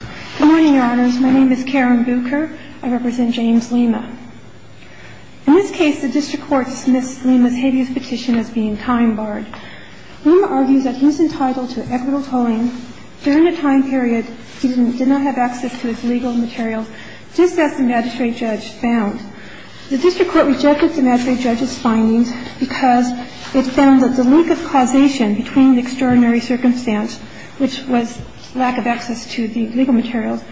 Good morning, Your Honors. My name is Karen Bucher. I represent James Lima. In this case, the district court dismissed Lima's hideous petition as being time-barred. Lima argues that he was entitled to equitable tolling during a time period he did not have access to his legal materials, just as the magistrate judge found. The district court rejected the magistrate judge's findings because it found that the link of causation between the extraordinary circumstance, which was lack of access to the legal materials,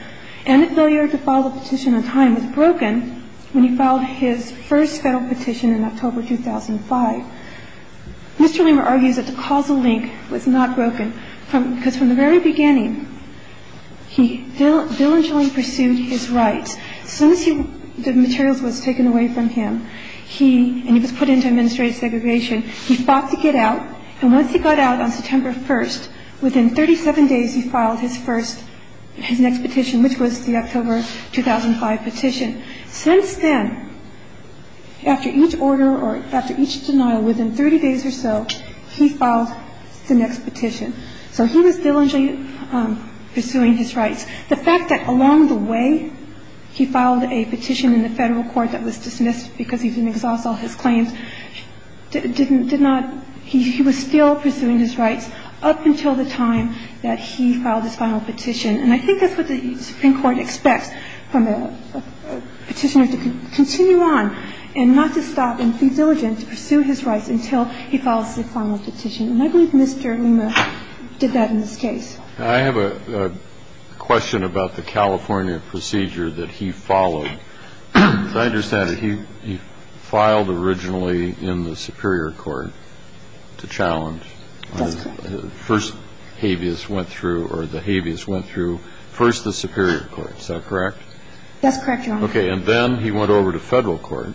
and the failure to file the petition on time was broken when he filed his first federal petition in October 2005. Mr. Lima argues that the causal link was not broken because from the very beginning, he diligently pursued his rights. As soon as the materials was taken away from him and he was put into administrative segregation, he fought to get out. And once he got out on September 1st, within 37 days, he filed his first, his next petition, which was the October 2005 petition. Since then, after each order or after each denial, within 30 days or so, he filed the next petition. So he was diligently pursuing his rights. The fact that along the way he filed a petition in the federal court that was dismissed because he didn't exhaust all his claims did not he was still pursuing his rights up until the time that he filed his final petition. And I think that's what the Supreme Court expects from a petitioner to continue on and not to stop and be diligent to pursue his rights until he files his final petition. And I believe Mr. Lima did that in this case. I have a question about the California procedure that he followed. I understand he filed originally in the Superior Court to challenge first habeas went through or the habeas went through first the Superior Court. Is that correct? That's correct. OK. And then he went over to federal court.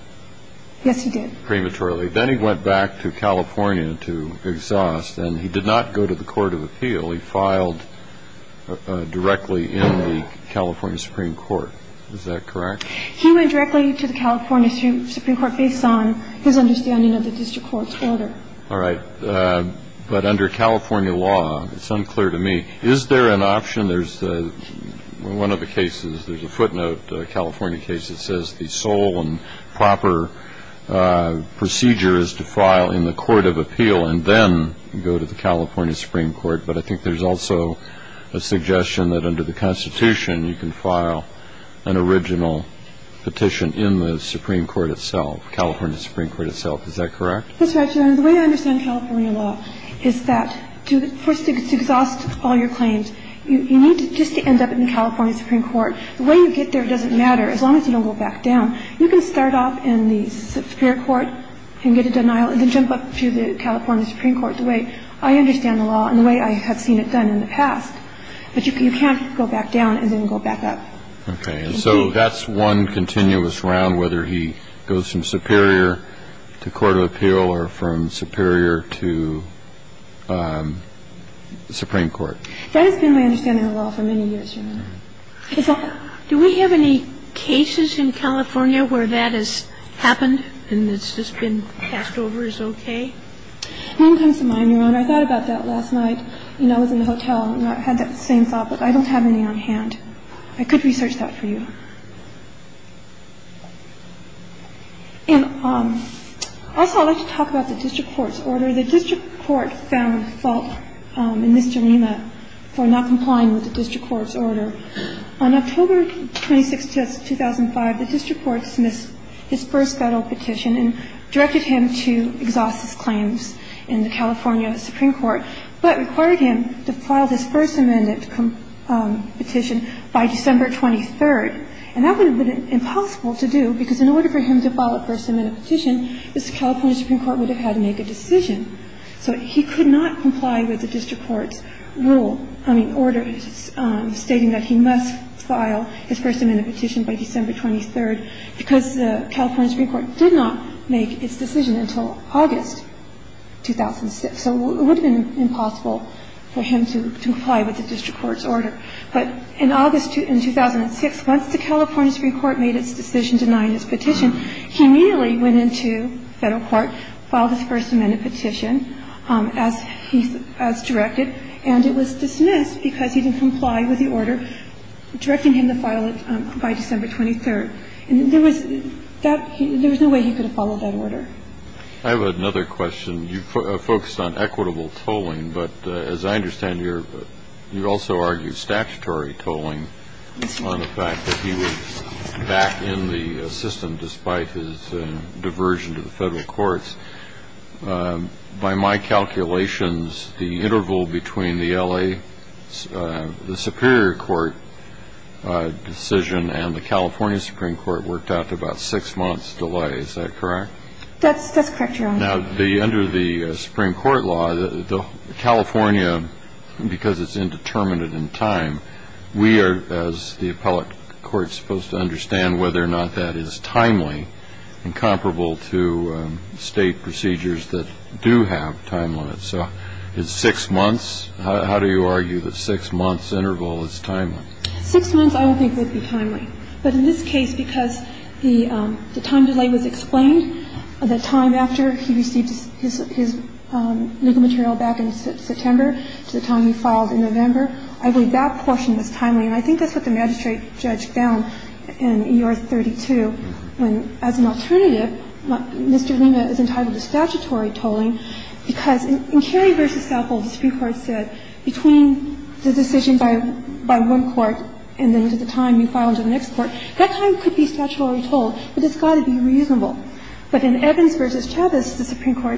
Yes, he did. Prematurely. Then he went back to California to exhaust and he did not go to the court of appeal. He filed directly in the California Supreme Court. Is that correct? He went directly to the California Supreme Court based on his understanding of the district court's order. All right. But under California law, it's unclear to me. Is there an option? There's one of the cases. There's a footnote California case that says the sole and proper procedure is to file in the court of appeal and then go to the California Supreme Court. But I think there's also a suggestion that under the Constitution you can file an original petition in the Supreme Court itself, California Supreme Court itself. Is that correct? That's right, Your Honor. The way I understand California law is that to exhaust all your claims, you need to just end up in California Supreme Court. The way you get there doesn't matter as long as you don't go back down. You can start off in the Superior Court and get a denial and then jump up to the California Supreme Court. The way I understand the law and the way I have seen it done in the past, but you can't go back down and then go back up. Okay. And so that's one continuous round, whether he goes from Superior to court of appeal or from Superior to Supreme Court. That has been my understanding of the law for many years, Your Honor. Do we have any cases in California where that has happened and it's just been passed over as okay? One comes to mind, Your Honor. I thought about that last night. You know, I was in the hotel and I had that same thought, but I don't have any on hand. I could research that for you. And also I'd like to talk about the district court's order. The district court found fault in this dilemma for not complying with the district court's order. On October 26, 2005, the district court dismissed his first federal petition and directed him to exhaust his claims in the California Supreme Court, but required him to file his first amended petition by December 23rd. And that would have been impossible to do because in order for him to file a first amended petition, the California Supreme Court would have had to make a decision. So he could not comply with the district court's rule, I mean, order stating that he must file his first amended petition by December 23rd because the California Supreme Court did not make its decision until August 2006. So it would have been impossible for him to comply with the district court's order. But in August 2006, once the California Supreme Court made its decision denying his petition, he immediately went into federal court, filed his first amended petition as directed, and it was dismissed because he didn't comply with the order directing him to file it by December 23rd. And there was no way he could have followed that order. I have another question. You focused on equitable tolling, but as I understand, you also argued statutory tolling on the fact that he was back in the system despite his diversion to the federal courts. By my calculations, the interval between the L.A. Superior Court decision and the California Supreme Court worked out to about six months delay. Is that correct? That's correct, Your Honor. Now, under the Supreme Court law, California, because it's indeterminate in time, we are, as the appellate court, supposed to understand whether or not that is timely and comparable to State procedures that do have time limits. So it's six months. How do you argue that six months interval is timely? Six months I would think would be timely. But in this case, because the time delay was explained, the time after he received his legal material back in September to the time he filed in November, I believe that portion was timely. And I think that's what the magistrate judged down in E.R. 32 when, as an alternative, Mr. Lima is entitled to statutory tolling, because in Cary v. Apple, the Supreme Court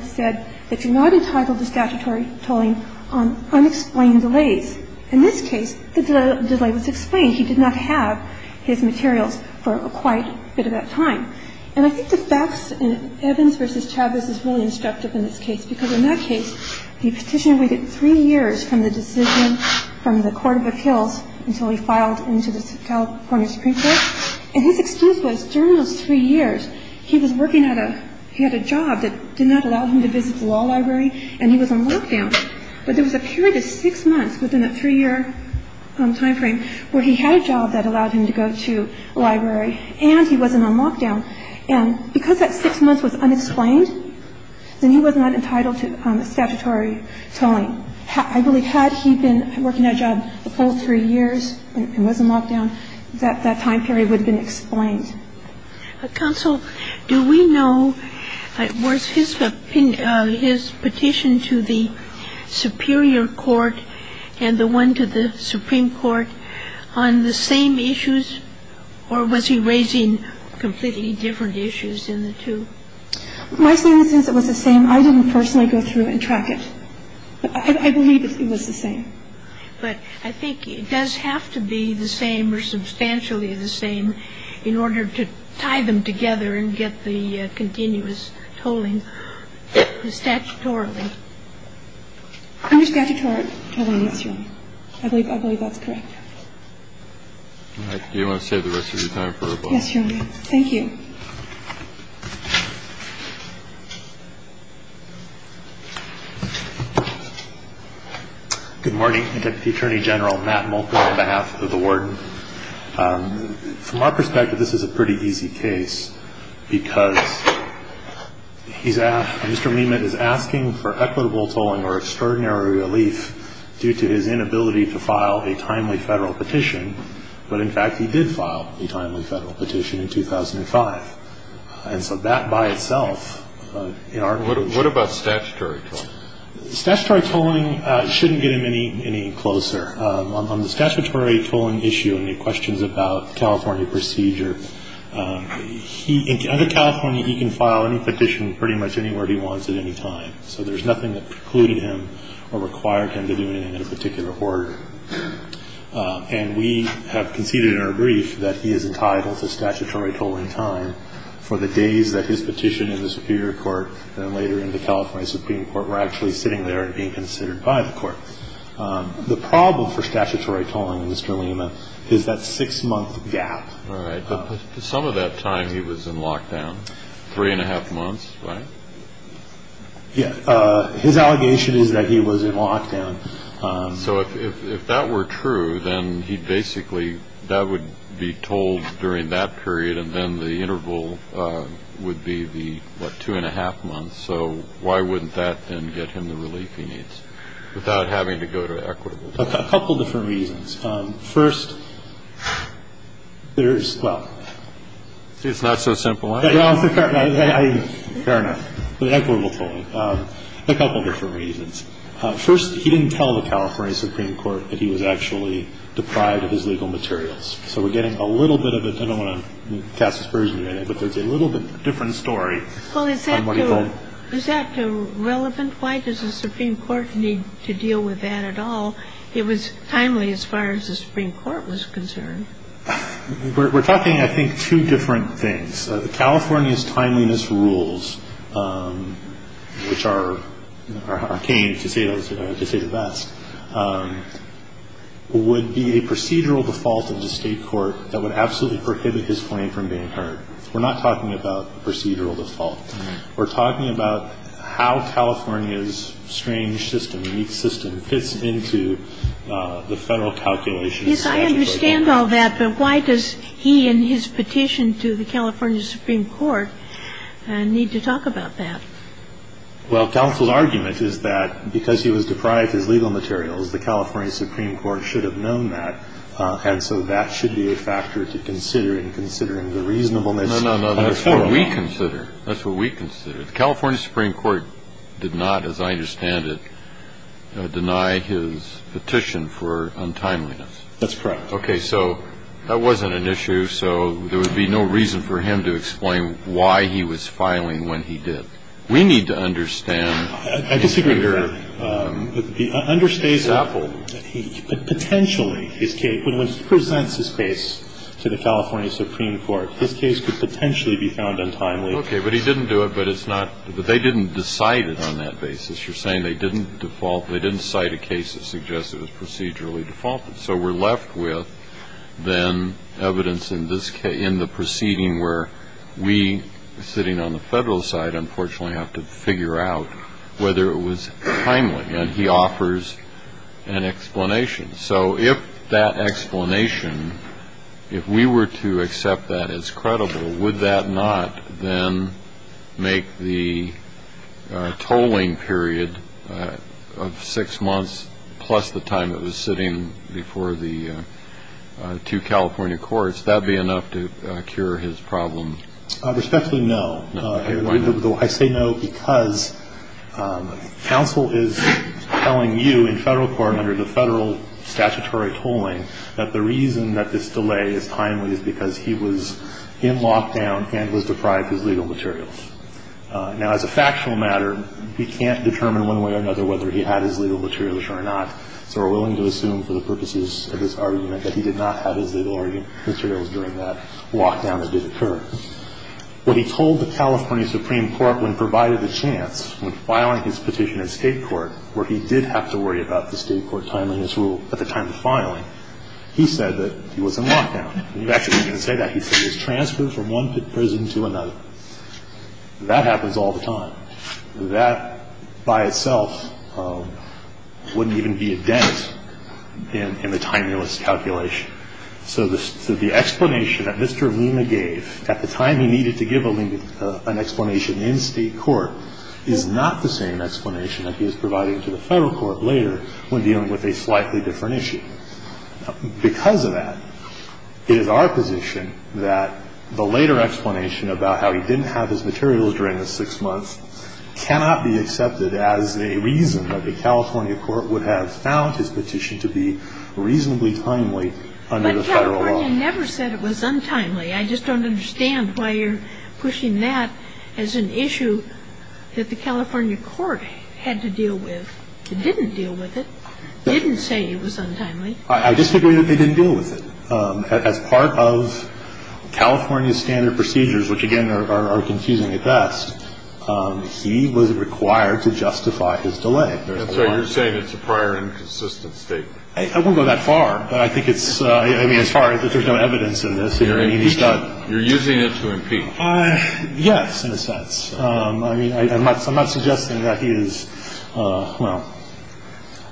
said that you're not entitled to statutory tolling on unexplained delays. In this case, the delay was explained. He did not have his materials for quite a bit of that time. And I think the facts in Evans v. Chavez is really instructive in this case, because in that case, the Petitioner waited three years from the decision from the Court of Appeals until he received his legal material. He filed into the California Supreme Court. And his excuse was during those three years, he was working at a – he had a job that did not allow him to visit the law library, and he was on lockdown. But there was a period of six months within a three-year timeframe where he had a job that allowed him to go to a library, and he wasn't on lockdown. And because that six months was unexplained, then he was not entitled to statutory tolling. So I believe, had he been working that job the full three years and wasn't on lockdown, that that time period would have been explained. Kagan. Counsel, do we know, was his petition to the Superior Court and the one to the Supreme Court on the same issues, or was he raising completely different issues than the two? My statement says it was the same. I didn't personally go through and track it. But I believe it was the same. But I think it does have to be the same or substantially the same in order to tie them together and get the continuous tolling statutorily. Under statutory tolling, yes, Your Honor. I believe that's correct. All right. Do you want to save the rest of your time for a vote? Yes, Your Honor. Thank you. Good morning. I'm Deputy Attorney General Matt Mulker on behalf of the warden. From our perspective, this is a pretty easy case because he's asked, Mr. Lehman is asking for equitable tolling or extraordinary relief due to his inability to file a timely federal petition. But, in fact, he did file a timely federal petition in 2005. And so that by itself, in our view ---- What about statutory tolling? Statutory tolling shouldn't get him any closer. On the statutory tolling issue and the questions about California procedure, under California, he can file any petition pretty much anywhere he wants at any time. So there's nothing that precluded him or required him to do anything in a particular order. And we have conceded in our brief that he is entitled to statutory tolling time for the days that his petition in the Superior Court and later in the California Supreme Court were actually sitting there and being considered by the court. The problem for statutory tolling, Mr. Lehman, is that six-month gap. All right. But some of that time he was in lockdown, three-and-a-half months, right? Yes. His allegation is that he was in lockdown. So if that were true, then he basically ---- that would be tolled during that period, and then the interval would be the, what, two-and-a-half months. So why wouldn't that then get him the relief he needs without having to go to equitable tolling? A couple of different reasons. First, there is ---- It's not so simple, is it? Fair enough. Equitable tolling. A couple of different reasons. First, he didn't tell the California Supreme Court that he was actually deprived of his legal materials. So we're getting a little bit of a ---- I don't want to cast aspersions, but there's a little bit of a different story on what he tolled. Well, is that relevant? Why does the Supreme Court need to deal with that at all? It was timely as far as the Supreme Court was concerned. We're talking, I think, two different things. The California's timeliness rules, which are arcane, to say the best, would be a procedural default of the State court that would absolutely prohibit his claim from being heard. We're not talking about procedural default. We're talking about how California's strange system, unique system, fits into the Federal calculations. Yes, I understand all that. But why does he and his petition to the California Supreme Court need to talk about that? Well, counsel's argument is that because he was deprived of his legal materials, the California Supreme Court should have known that. And so that should be a factor to consider in considering the reasonableness. No, no, no. That's what we consider. That's what we consider. The California Supreme Court did not, as I understand it, deny his petition for untimeliness. That's correct. Okay. So that wasn't an issue. So there would be no reason for him to explain why he was filing when he did. We need to understand the figure. I disagree with that. The understated example that he could potentially, his case, when he presents his case to the California Supreme Court, his case could potentially be found untimely. Okay. But he didn't do it, but it's not they didn't decide it on that basis. You're saying they didn't default, they didn't cite a case that suggested it was procedurally defaulted. So we're left with then evidence in the proceeding where we, sitting on the federal side, unfortunately have to figure out whether it was timely. And he offers an explanation. So if that explanation, if we were to accept that as credible, would that not then make the tolling period of six months plus the time it was sitting before the two California courts, that be enough to cure his problem? Respectfully, no. I say no because counsel is telling you in federal court, under the federal statutory tolling, that the reason that this delay is timely is because he was in lockdown and was deprived of his legal materials. Now, as a factual matter, we can't determine one way or another whether he had his legal materials or not. So we're willing to assume for the purposes of this argument that he did not have his legal materials during that lockdown that did occur. What he told the California Supreme Court when provided the chance, when filing his petition in State court, where he did have to worry about the State court timing his rule at the time of filing, he said that he was in lockdown. He actually didn't say that. He said he was transferred from one prison to another. That happens all the time. That by itself wouldn't even be a dent in the timeliness calculation. So the explanation that Mr. Luna gave at the time he needed to give an explanation in State court is not the same explanation that he was providing to the federal court later when dealing with a slightly different issue. Because of that, it is our position that the later explanation about how he didn't have his materials during the six months cannot be accepted as a reason that the California court would have found his petition to be reasonably timely under the federal law. But California never said it was untimely. I just don't understand why you're pushing that as an issue that the California court had to deal with. It didn't deal with it. It didn't say it was untimely. I disagree that they didn't deal with it. As part of California's standard procedures, which, again, are confusing at best, he was required to justify his delay. So you're saying it's a prior and consistent statement. I won't go that far. I mean, as far as if there's no evidence of this. You're using it to impeach. Yes, in a sense. I mean, I'm not suggesting that he is – well,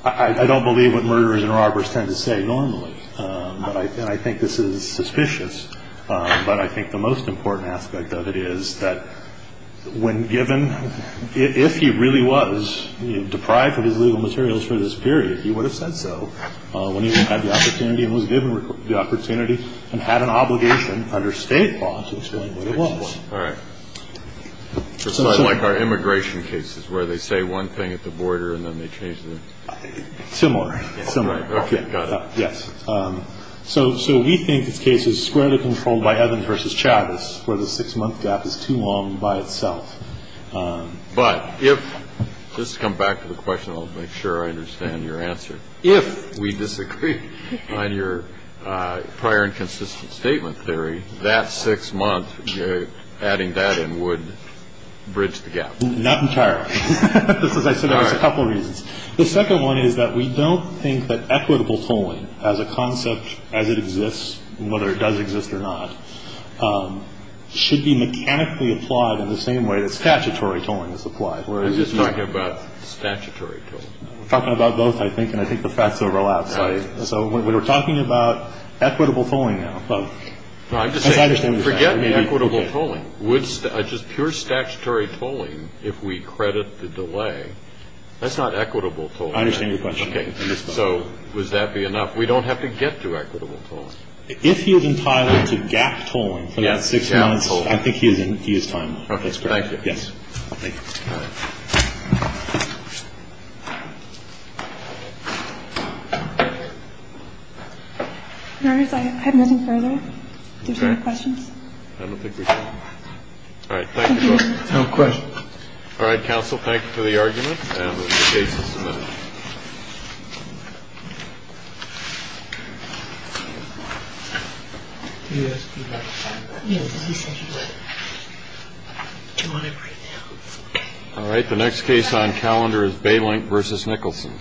I don't believe what murderers and robbers tend to say normally. And I think this is suspicious. But I think the most important aspect of it is that when given – if he really was deprived of his legal materials for this period, he would have said so when he had the opportunity and was given the opportunity and had an obligation under state law to explain what it was. All right. Just like our immigration cases where they say one thing at the border and then they change the – Similar. Similar. Got it. Yes. So we think this case is squarely controlled by Evans versus Chavez, where the six-month gap is too long by itself. But if – just to come back to the question, I'll make sure I understand your answer. If we disagree on your prior and consistent statement theory, that six months, adding that in would bridge the gap. Not entirely. Just as I said, there's a couple reasons. The second one is that we don't think that equitable tolling as a concept as it exists, whether it does exist or not, should be mechanically applied in the same way that statutory tolling is applied. I'm just talking about statutory tolling. We're talking about both, I think, and I think the facts overlap. Right. So we're talking about equitable tolling now. Forget equitable tolling. Just pure statutory tolling, if we credit the delay, that's not equitable tolling. I understand your question. Okay. So would that be enough? We don't have to get to equitable tolling. If he is entitled to gap tolling for that six months, I think he is time. Okay. Thank you. Yes. Thank you. All right. Counsel, thank you for the argument, and the case is submitted. Yes. All right. The next case on calendar is bailing versus Nicholson.